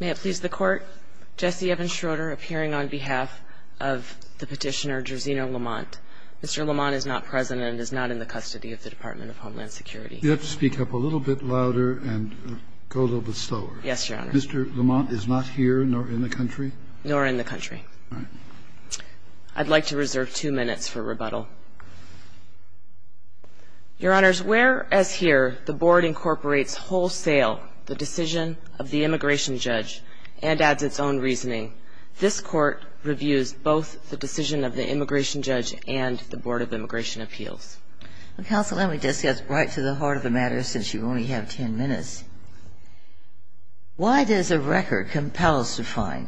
May it please the Court, Jesse Evans Schroeder appearing on behalf of the petitioner Jerezhino Lamont. Mr. Lamont is not present and is not in the custody of the Department of Homeland Security. You have to speak up a little bit louder and go a little bit slower. Yes, Your Honor. Mr. Lamont is not here nor in the country? Nor in the country. All right. I'd like to reserve two minutes for rebuttal. Your Honors, whereas here the Board incorporates wholesale the decision of the immigration judge and adds its own reasoning, this Court reviews both the decision of the immigration judge and the Board of Immigration Appeals. Counsel, let me just get right to the heart of the matter since you only have ten minutes. Why does the record compel us to find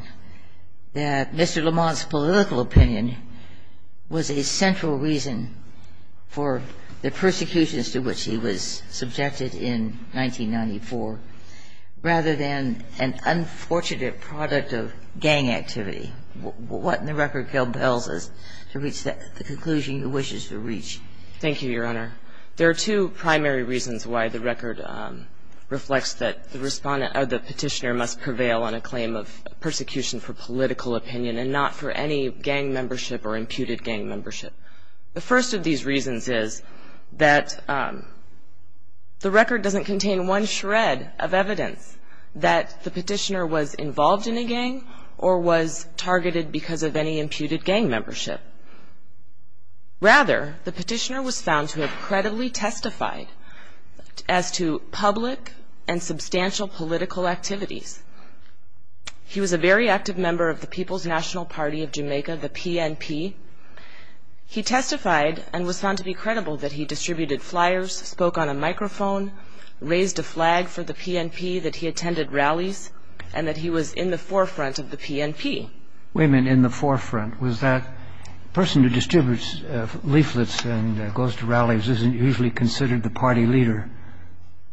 that Mr. Lamont's political opinion was a central reason for the persecutions to which he was subjected in 1994 rather than an unfortunate product of gang activity? What in the record compels us to reach the conclusion he wishes to reach? Thank you, Your Honor. There are two primary reasons why the record reflects that the petitioner must prevail on a claim of persecution for political opinion and not for any gang membership or imputed gang membership. The first of these reasons is that the record doesn't contain one shred of evidence that the petitioner was involved in a gang or was targeted because of any imputed gang membership. Rather, the petitioner was found to have credibly testified as to public and substantial political activities. He was a very active member of the People's National Party of Jamaica, the PNP. He testified and was found to be credible that he distributed flyers, spoke on a microphone, raised a flag for the PNP, that he attended rallies, and that he was in the forefront of the PNP. So, wait a minute, in the forefront, was that person who distributes leaflets and goes to rallies isn't usually considered the party leader?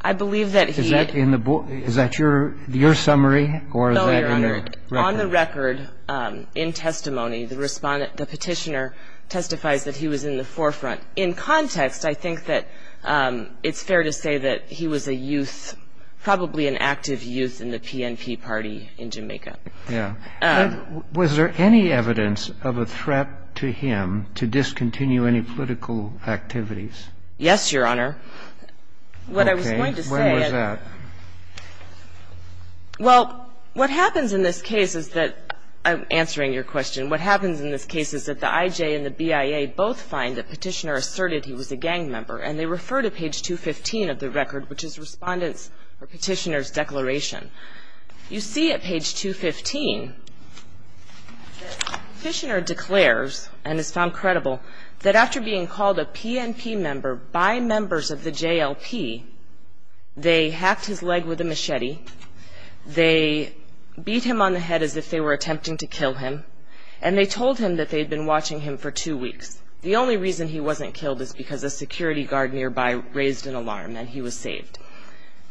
I believe that he had... Is that your summary or is that in the record? No, Your Honor. On the record, in testimony, the petitioner testifies that he was in the forefront. In context, I think that it's fair to say that he was a youth, probably an active youth in the PNP party in Jamaica. Yeah. Was there any evidence of a threat to him to discontinue any political activities? Yes, Your Honor. Okay. What I was going to say is... When was that? Well, what happens in this case is that the IJ and the BIA both find that Petitioner asserted he was a gang member, and they refer to page 215 of the record, which is Respondent's or Petitioner's declaration. You see at page 215 that Petitioner declares and is found credible that after being called a PNP member by members of the JLP, they hacked his leg with a machete, they beat him on the head as if they were attempting to kill him, and they told him that they had been watching him for two weeks. The only reason he wasn't killed is because a security guard nearby raised an alarm and he was saved.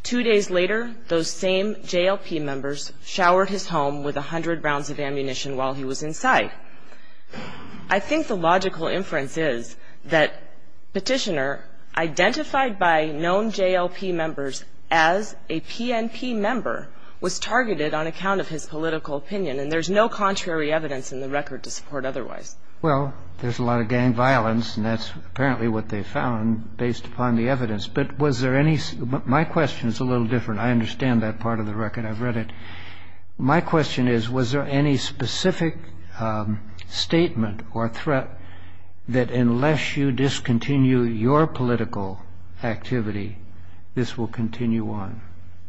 Two days later, those same JLP members showered his home with 100 rounds of ammunition while he was inside. I think the logical inference is that Petitioner, identified by known JLP members as a PNP member, was targeted on account of his political opinion, and there's no contrary evidence in the record to support otherwise. Well, there's a lot of gang violence, and that's apparently what they found based upon the evidence. But was there any – my question is a little different. I understand that part of the record. I've read it. My question is, was there any specific statement or threat that unless you discontinue your political activity, this will continue on?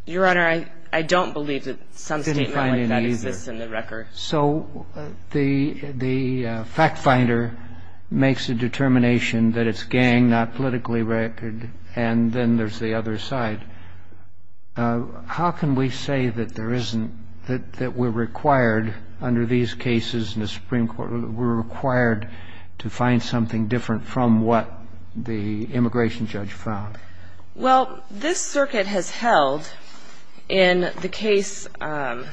Your Honor, I don't believe that some statement like that exists in the record. So the fact finder makes a determination that it's gang, not politically record, and then there's the other side. How can we say that there isn't – that we're required under these cases in the Supreme Court – we're required to find something different from what the immigration judge found? Well, this circuit has held in the case – pardon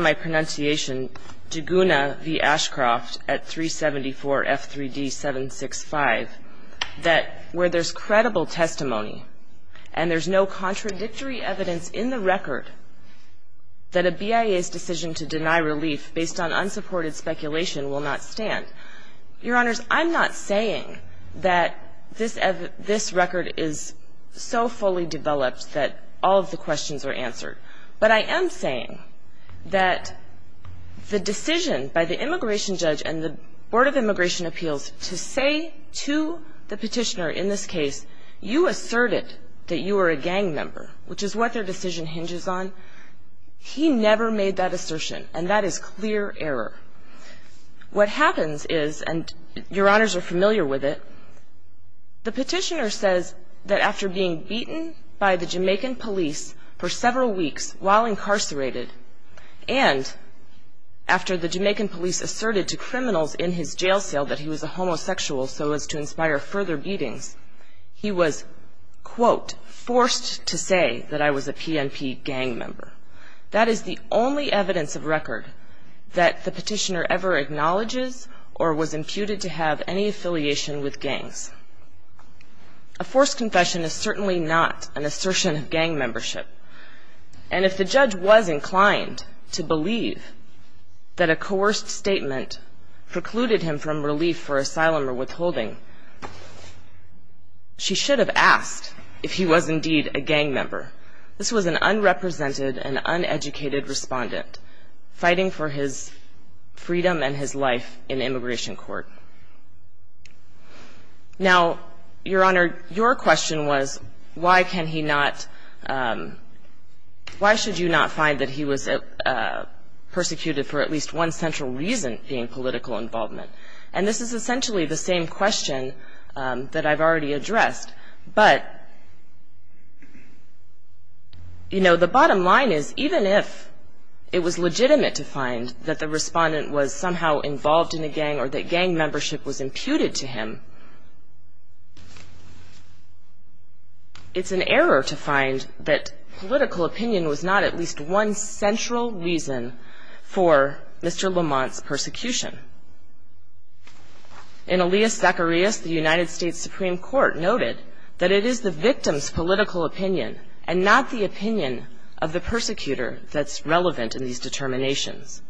my pronunciation – Duguna v. Ashcroft at 374 F3D 765 that where there's credible testimony and there's no contradictory evidence in the record that a BIA's decision to deny relief based on unsupported speculation will not stand. Your Honors, I'm not saying that this record is so fully developed that all of the questions are answered. But I am saying that the decision by the immigration judge and the Board of Immigration Appeals to say to the petitioner in this case, you asserted that you were a gang member, which is what their decision hinges on, he never made that assertion. And that is clear error. What happens is, and your Honors are familiar with it, the petitioner says that after being beaten by the Jamaican police for several weeks while incarcerated, and after the Jamaican police asserted to criminals in his jail cell that he was a homosexual so as to inspire further beatings, he was, quote, forced to say that I was a PNP gang member. That is the only evidence of record that the petitioner ever acknowledges or was imputed to have any affiliation with gangs. A forced confession is certainly not an assertion of gang membership. And if the judge was inclined to believe that a coerced statement precluded him from relief for asylum or withholding, she should have asked if he was indeed a gang member. This was an unrepresented and uneducated respondent fighting for his freedom and his life in immigration court. Now, Your Honor, your question was, why can he not, why should you not find that he was persecuted for at least one central reason being political involvement? And this is essentially the same question that I've already addressed. But, you know, the bottom line is even if it was legitimate to find that the respondent was somehow involved in a gang or that gang membership was imputed to him, it's an error to find that political opinion was not at least one central reason for Mr. Lamont's persecution. In Elias Zacharias, the United States Supreme Court noted that it is the victim's political opinion and not the opinion of the persecutor that's relevant in these determinations.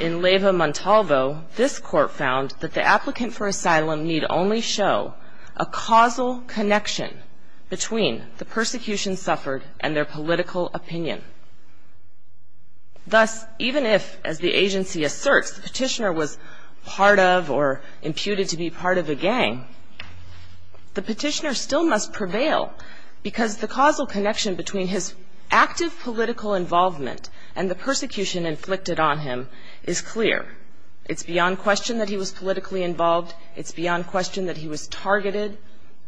In Leyva Montalvo, this court found that the applicant for asylum need only show a causal connection between the persecution suffered and their political opinion. Thus, even if, as the agency asserts, the petitioner was part of or imputed to be part of a gang, the petitioner still must prevail because the causal connection between his active political involvement and the persecution inflicted on him is clear. It's beyond question that he was politically involved. It's beyond question that he was targeted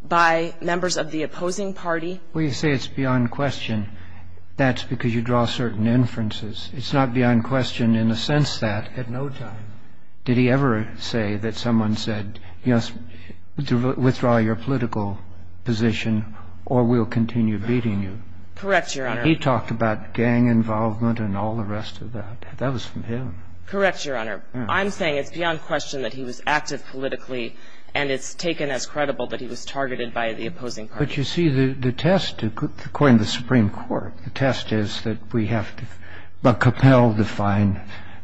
by members of the opposing party. Well, you say it's beyond question. That's because you draw certain inferences. It's not beyond question in the sense that at no time did he ever say that someone said, yes, withdraw your political position or we'll continue beating you. Correct, Your Honor. He talked about gang involvement and all the rest of that. That was from him. Correct, Your Honor. I'm saying it's beyond question that he was active politically and it's taken as credible that he was targeted by the opposing party. But you see, the test, according to the Supreme Court, the test is that we have to but compel to find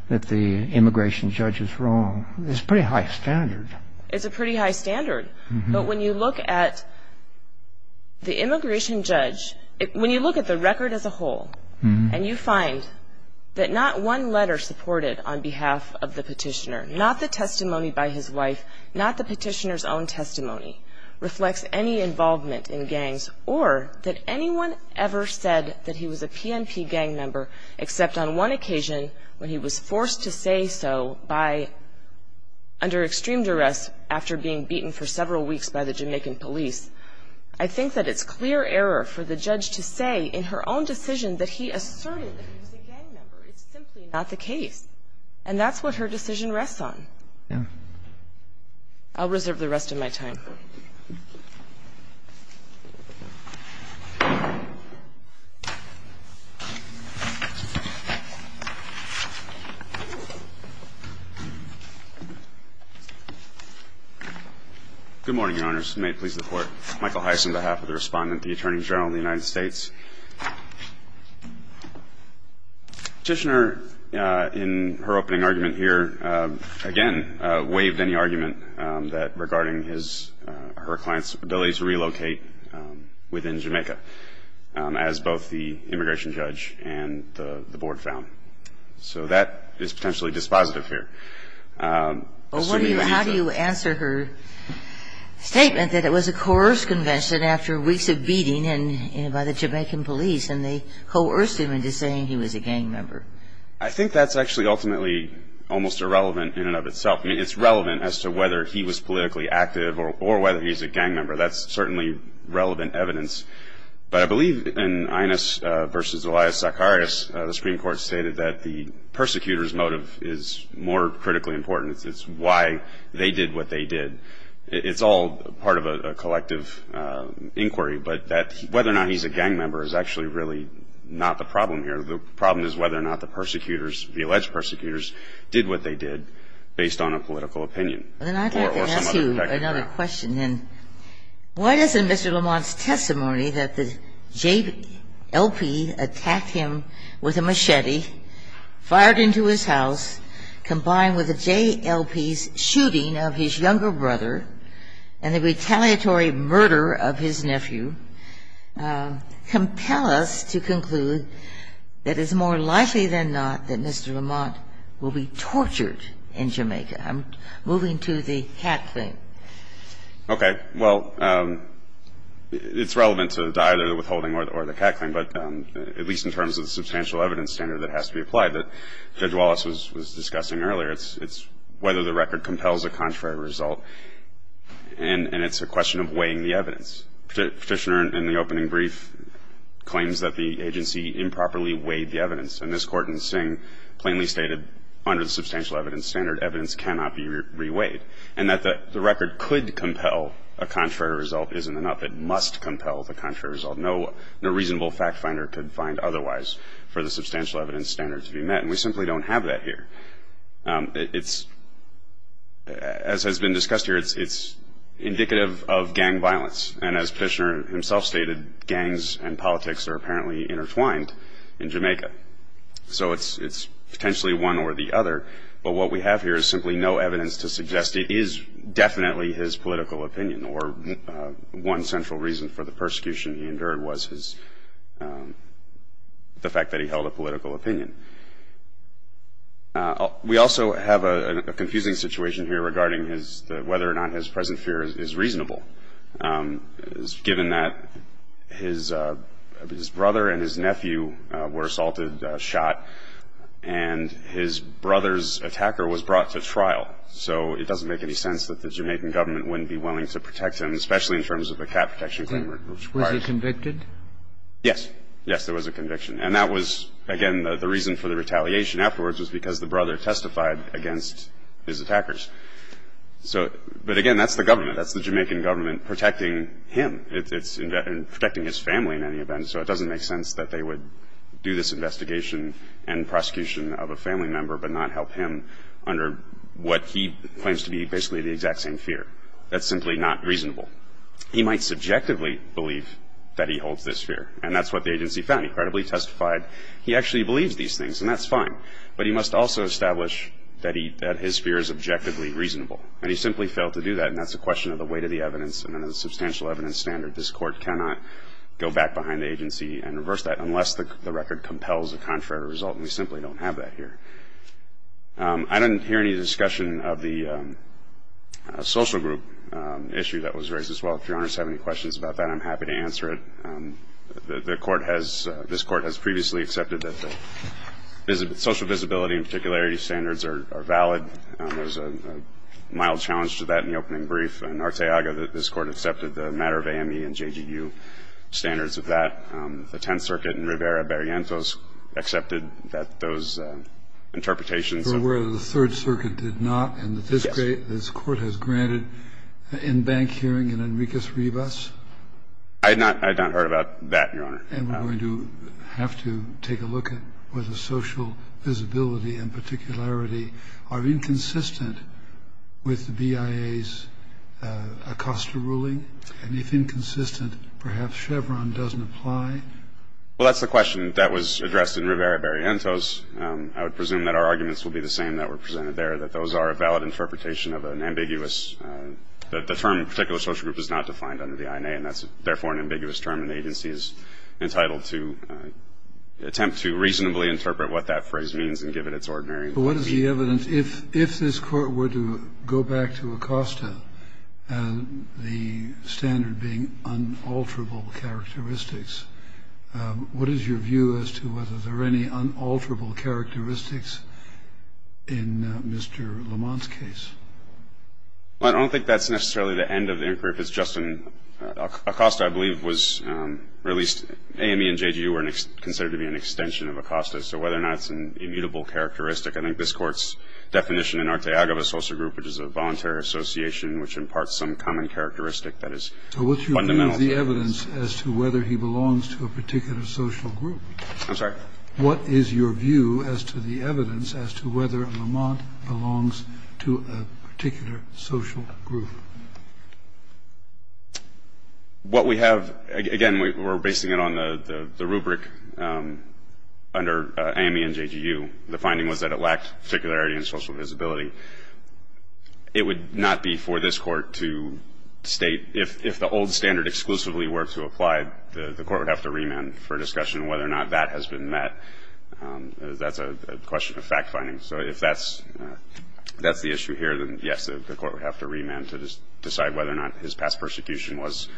that the immigration judge is wrong. It's a pretty high standard. It's a pretty high standard. But when you look at the immigration judge, when you look at the record as a whole and you find that not one letter supported on behalf of the petitioner, not the testimony by his wife, not the petitioner's own testimony, reflects any involvement in gangs or that anyone ever said that he was a PNP gang member except on one occasion when he was forced to say so by under extreme duress after being beaten for several weeks by the Jamaican police, I think that it's clear error for the judge to say in her own decision that he asserted that he was a gang member. It's simply not the case. And that's what her decision rests on. I'll reserve the rest of my time. Good morning, Your Honors. May it please the Court. Michael Heiss on behalf of the Respondent to the Attorney General of the United States. Petitioner in her opening argument here, again, waived any argument that regarding his or her client's ability to relocate within Jamaica as both the immigration judge and the board found. So that is potentially dispositive here. How do you answer her statement that it was a coerced convention after weeks of beating and by the Jamaican police and they coerced him into saying he was a gang member? I think that's actually ultimately almost irrelevant in and of itself. I mean, it's relevant as to whether he was politically active or whether he's a gang member. That's certainly relevant evidence. But I believe in Ines v. Elias Zacharias, the Supreme Court stated that the persecutor's motive is more critically important. It's why they did what they did. It's all part of a collective inquiry. But whether or not he's a gang member is actually really not the problem here. The problem is whether or not the persecutors, the alleged persecutors, did what they did based on a political opinion or some other protective ground. Then I'd like to ask you another question. Why doesn't Mr. Lamont's testimony that the JLP attacked him with a machete, fired into his house, combined with the JLP's shooting of his younger brother and the retaliatory murder of his nephew, compel us to conclude that it's more likely than not that Mr. Lamont will be tortured in Jamaica? I'm moving to the cat claim. Okay. Well, it's relevant to either the withholding or the cat claim, but at least in terms of the substantial evidence standard that has to be applied that Judge Wallace was discussing earlier, it's whether the record compels a contrary result, and it's a question of weighing the evidence. Petitioner in the opening brief claims that the agency improperly weighed the evidence, and this Court in Sing plainly stated under the substantial evidence standard evidence cannot be re-weighed, and that the record could compel a contrary result isn't enough. It must compel the contrary result. No reasonable fact finder could find otherwise for the substantial evidence standard to be met, and we simply don't have that here. As has been discussed here, it's indicative of gang violence, and as Petitioner himself stated, gangs and politics are apparently intertwined in Jamaica. So it's potentially one or the other, but what we have here is simply no evidence to suggest it is definitely his political opinion or one central reason for the persecution he endured was the fact that he held a political opinion. We also have a confusing situation here regarding whether or not his present fear is reasonable, given that his brother and his nephew were assaulted, shot, and his brother's attacker was brought to trial. So it doesn't make any sense that the Jamaican government wouldn't be willing to protect him, especially in terms of a cat protection agreement. Was he convicted? Yes. Yes, there was a conviction. And that was, again, the reason for the retaliation afterwards was because the brother testified against his attackers. So, but again, that's the government. That's the Jamaican government protecting him. It's protecting his family in any event, so it doesn't make sense that they would do this investigation and prosecution of a family member but not help him under what he claims to be basically the exact same fear. That's simply not reasonable. He might subjectively believe that he holds this fear. And that's what the agency found. He credibly testified he actually believes these things, and that's fine. But he must also establish that his fear is objectively reasonable. And he simply failed to do that, and that's a question of the weight of the evidence and a substantial evidence standard. This Court cannot go back behind the agency and reverse that unless the record compels a contrary result, and we simply don't have that here. I didn't hear any discussion of the social group issue that was raised as well. If Your Honors have any questions about that, I'm happy to answer it. The Court has – this Court has previously accepted that the social visibility and particularity standards are valid. There's a mild challenge to that in the opening brief. In Arteaga, this Court accepted the matter of AME and JGU standards of that. The Tenth Circuit in Rivera-Barrientos accepted that those interpretations of – Were aware that the Third Circuit did not. Yes. And that this Court has granted an in-bank hearing in Enriquez-Rivas. I had not – I had not heard about that, Your Honor. And we're going to have to take a look at whether social visibility and particularity are inconsistent with the BIA's Acosta ruling. And if inconsistent, perhaps Chevron doesn't apply? Well, that's the question that was addressed in Rivera-Barrientos. I would presume that our arguments will be the same that were presented there, that those are a valid interpretation of an ambiguous – that the term particular social group is not defined under the INA, and that's therefore an ambiguous term, and the agency is entitled to attempt to reasonably interpret what that phrase means and give it its ordinary meaning. So what is the evidence? If this Court were to go back to Acosta, the standard being unalterable characteristics, what is your view as to whether there are any unalterable characteristics in Mr. Lamont's case? Well, I don't think that's necessarily the end of the inquiry. If it's just an – Acosta, I believe, was released – AME and JGU were considered to be an extension of Acosta. So whether or not it's an immutable characteristic, I think this Court's definition in Arteaga of a social group, which is a voluntary association, which imparts some common characteristic that is fundamental. So what's your view of the evidence as to whether he belongs to a particular social group? I'm sorry? What is your view as to the evidence as to whether Lamont belongs to a particular social group? What we have – again, we're basing it on the rubric under AME and JGU. The finding was that it lacked particularity and social visibility. It would not be for this Court to state – if the old standard exclusively were to apply, the Court would have to remand for discussion whether or not that has been met. That's a question of fact-finding. So if that's the issue here, then, yes, the Court would have to remand to discuss – decide whether or not his past persecution was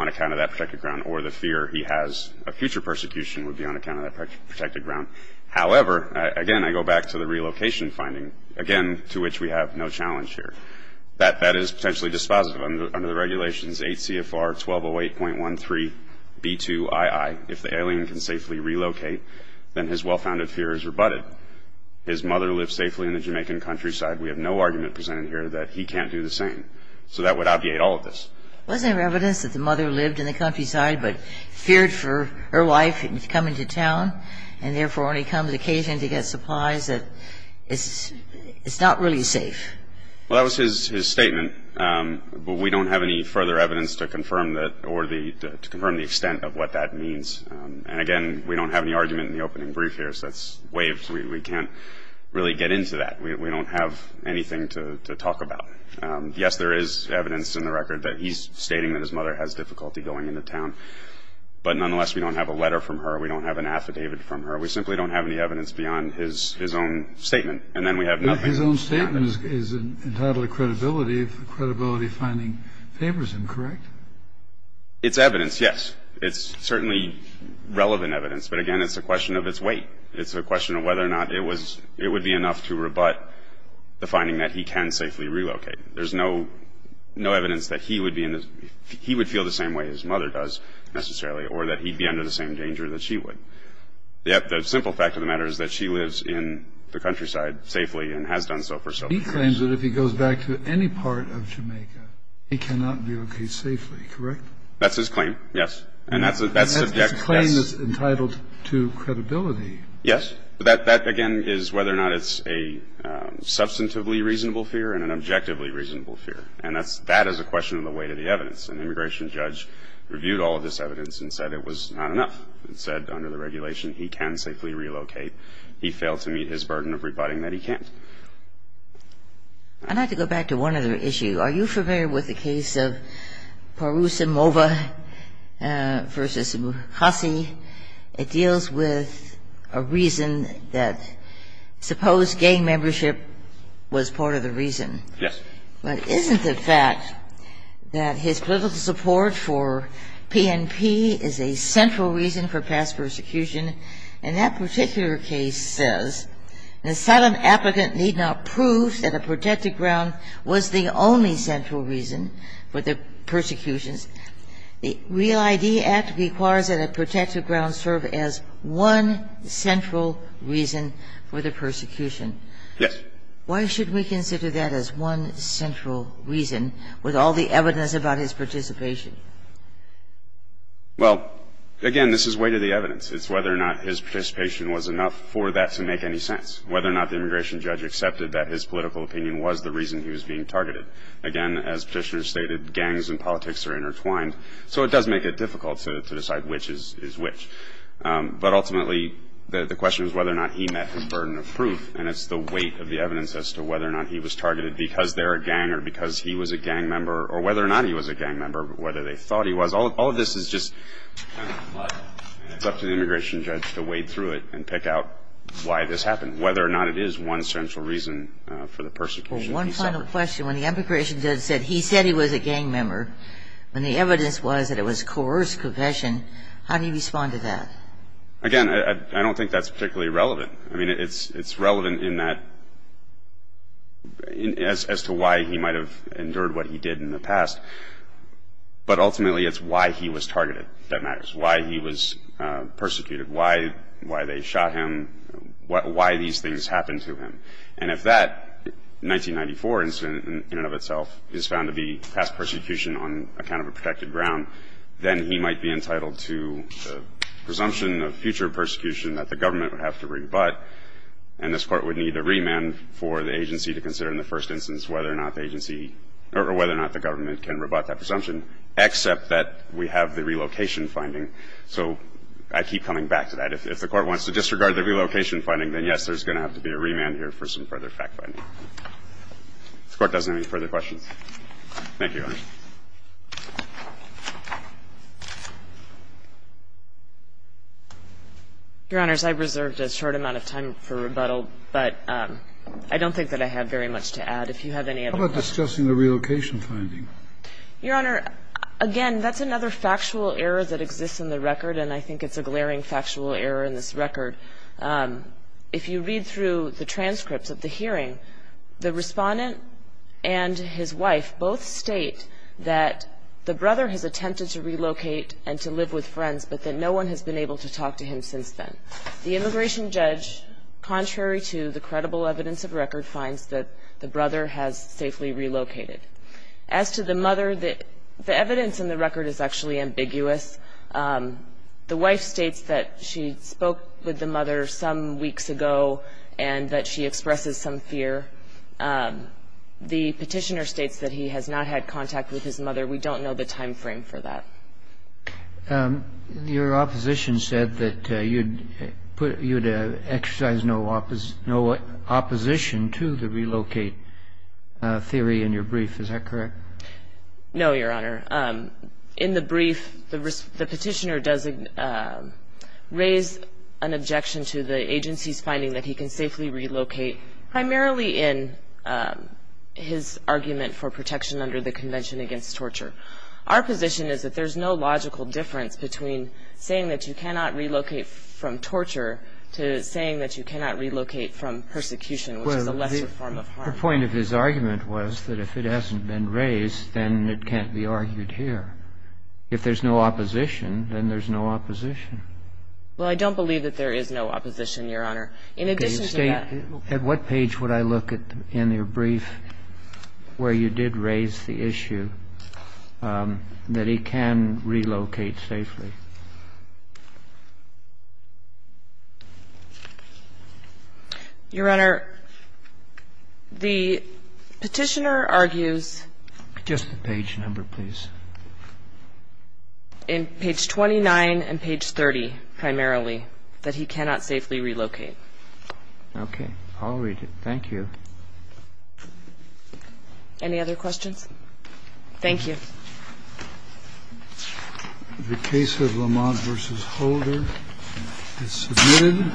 on account of that protected ground or the fear he has a future persecution would be on account of that protected ground. However, again, I go back to the relocation finding, again, to which we have no challenge here. That is potentially dispositive. Under the regulations 8 CFR 1208.13 B2II, if the alien can safely relocate, then his well-founded fear is rebutted. His mother lived safely in the Jamaican countryside. We have no argument presented here that he can't do the same. So that would obviate all of this. Wasn't there evidence that the mother lived in the countryside but feared for her wife coming to town and, therefore, when he comes occasionally to get supplies, that it's not really safe? Well, that was his statement. But we don't have any further evidence to confirm that or to confirm the extent of what that means. And, again, we don't have any argument in the opening brief here. So that's waived. We can't really get into that. We don't have anything to talk about. Yes, there is evidence in the record that he's stating that his mother has difficulty going into town. But, nonetheless, we don't have a letter from her. We don't have an affidavit from her. We simply don't have any evidence beyond his own statement. And then we have nothing. But his own statement is entitled credibility if the credibility finding favors him, correct? It's evidence, yes. It's certainly relevant evidence. But, again, it's a question of its weight. It's a question of whether or not it would be enough to rebut the finding that he can safely relocate. There's no evidence that he would feel the same way his mother does, necessarily, or that he'd be under the same danger that she would. The simple fact of the matter is that she lives in the countryside safely and has done so for so many years. He claims that if he goes back to any part of Jamaica, he cannot relocate safely, correct? That's his claim, yes. And that's subject, yes. His claim is entitled to credibility. Yes. That, again, is whether or not it's a substantively reasonable fear and an objectively reasonable fear. And that is a question of the weight of the evidence. An immigration judge reviewed all of this evidence and said it was not enough. It said under the regulation he can safely relocate. He failed to meet his burden of rebutting that he can't. I'd like to go back to one other issue. Are you familiar with the case of Parous and Mova versus Hassi? It deals with a reason that suppose gang membership was part of the reason. Yes. But isn't the fact that his political support for PNP is a central reason for past persecution? And that particular case says an asylum applicant need not prove that a protected ground was the only central reason for the persecutions. The Real ID Act requires that a protected ground serve as one central reason for the persecution. Yes. Why should we consider that as one central reason with all the evidence about his participation? Well, again, this is weight of the evidence. It's whether or not his participation was enough for that to make any sense. Whether or not the immigration judge accepted that his political opinion was the reason he was being targeted. Again, as Petitioner stated, gangs and politics are intertwined. So it does make it difficult to decide which is which. But ultimately, the question is whether or not he met his burden of proof, and it's the weight of the evidence as to whether or not he was targeted because they're a gang or because he was a gang member or whether or not he was a gang member, whether they thought he was. All of this is just kind of a plug, and it's up to the immigration judge to wade through it and pick out why this happened, whether or not it is one central reason for the persecution. One final question. When the immigration judge said he said he was a gang member, when the evidence was that it was coerced confession, how do you respond to that? Again, I don't think that's particularly relevant. I mean, it's relevant in that as to why he might have endured what he did in the past, but ultimately it's why he was targeted that matters, why he was persecuted, why they shot him, why these things happened to him. And if that 1994 incident in and of itself is found to be past persecution on account of a protected ground, then he might be entitled to the presumption of future persecution that the government would have to rebut, and this Court would need a remand for the agency to consider in the first instance whether or not the agency or whether or not the government can rebut that presumption except that we have the relocation finding. So I keep coming back to that. If the Court wants to disregard the relocation finding, then, yes, there's going to have to be a remand here for some further fact-finding. If the Court doesn't have any further questions. Thank you, Your Honor. Your Honors, I've reserved a short amount of time for rebuttal, but I don't think that I have very much to add. If you have any other questions. How about discussing the relocation finding? Your Honor, again, that's another factual error that exists in the record, and I think it's a glaring factual error in this record. If you read through the transcripts of the hearing, the Respondent and his wife both state that the brother has attempted to relocate and to live with friends, but that no one has been able to talk to him since then. The immigration judge, contrary to the credible evidence of record, finds that the brother has safely relocated. As to the mother, the evidence in the record is actually ambiguous. The wife states that she spoke with the mother some weeks ago and that she expresses some fear. The petitioner states that he has not had contact with his mother. We don't know the timeframe for that. Your opposition said that you'd exercise no opposition to the relocate theory in your brief. Is that correct? No, Your Honor. In the brief, the petitioner does raise an objection to the agency's finding that he can safely relocate, primarily in his argument for protection under the Convention Against Torture. Our position is that there's no logical difference between saying that you cannot relocate from torture to saying that you cannot relocate from persecution, which is a lesser form of harm. The proper point of his argument was that if it hasn't been raised, then it can't be argued here. If there's no opposition, then there's no opposition. Well, I don't believe that there is no opposition, Your Honor. In addition to that — At what page would I look in your brief where you did raise the issue that he can relocate safely? Your Honor, the petitioner argues — Just the page number, please. In page 29 and page 30, primarily, that he cannot safely relocate. Okay. I'll read it. Thank you. Any other questions? Thank you. The case of Lamont v. Holder is submitted.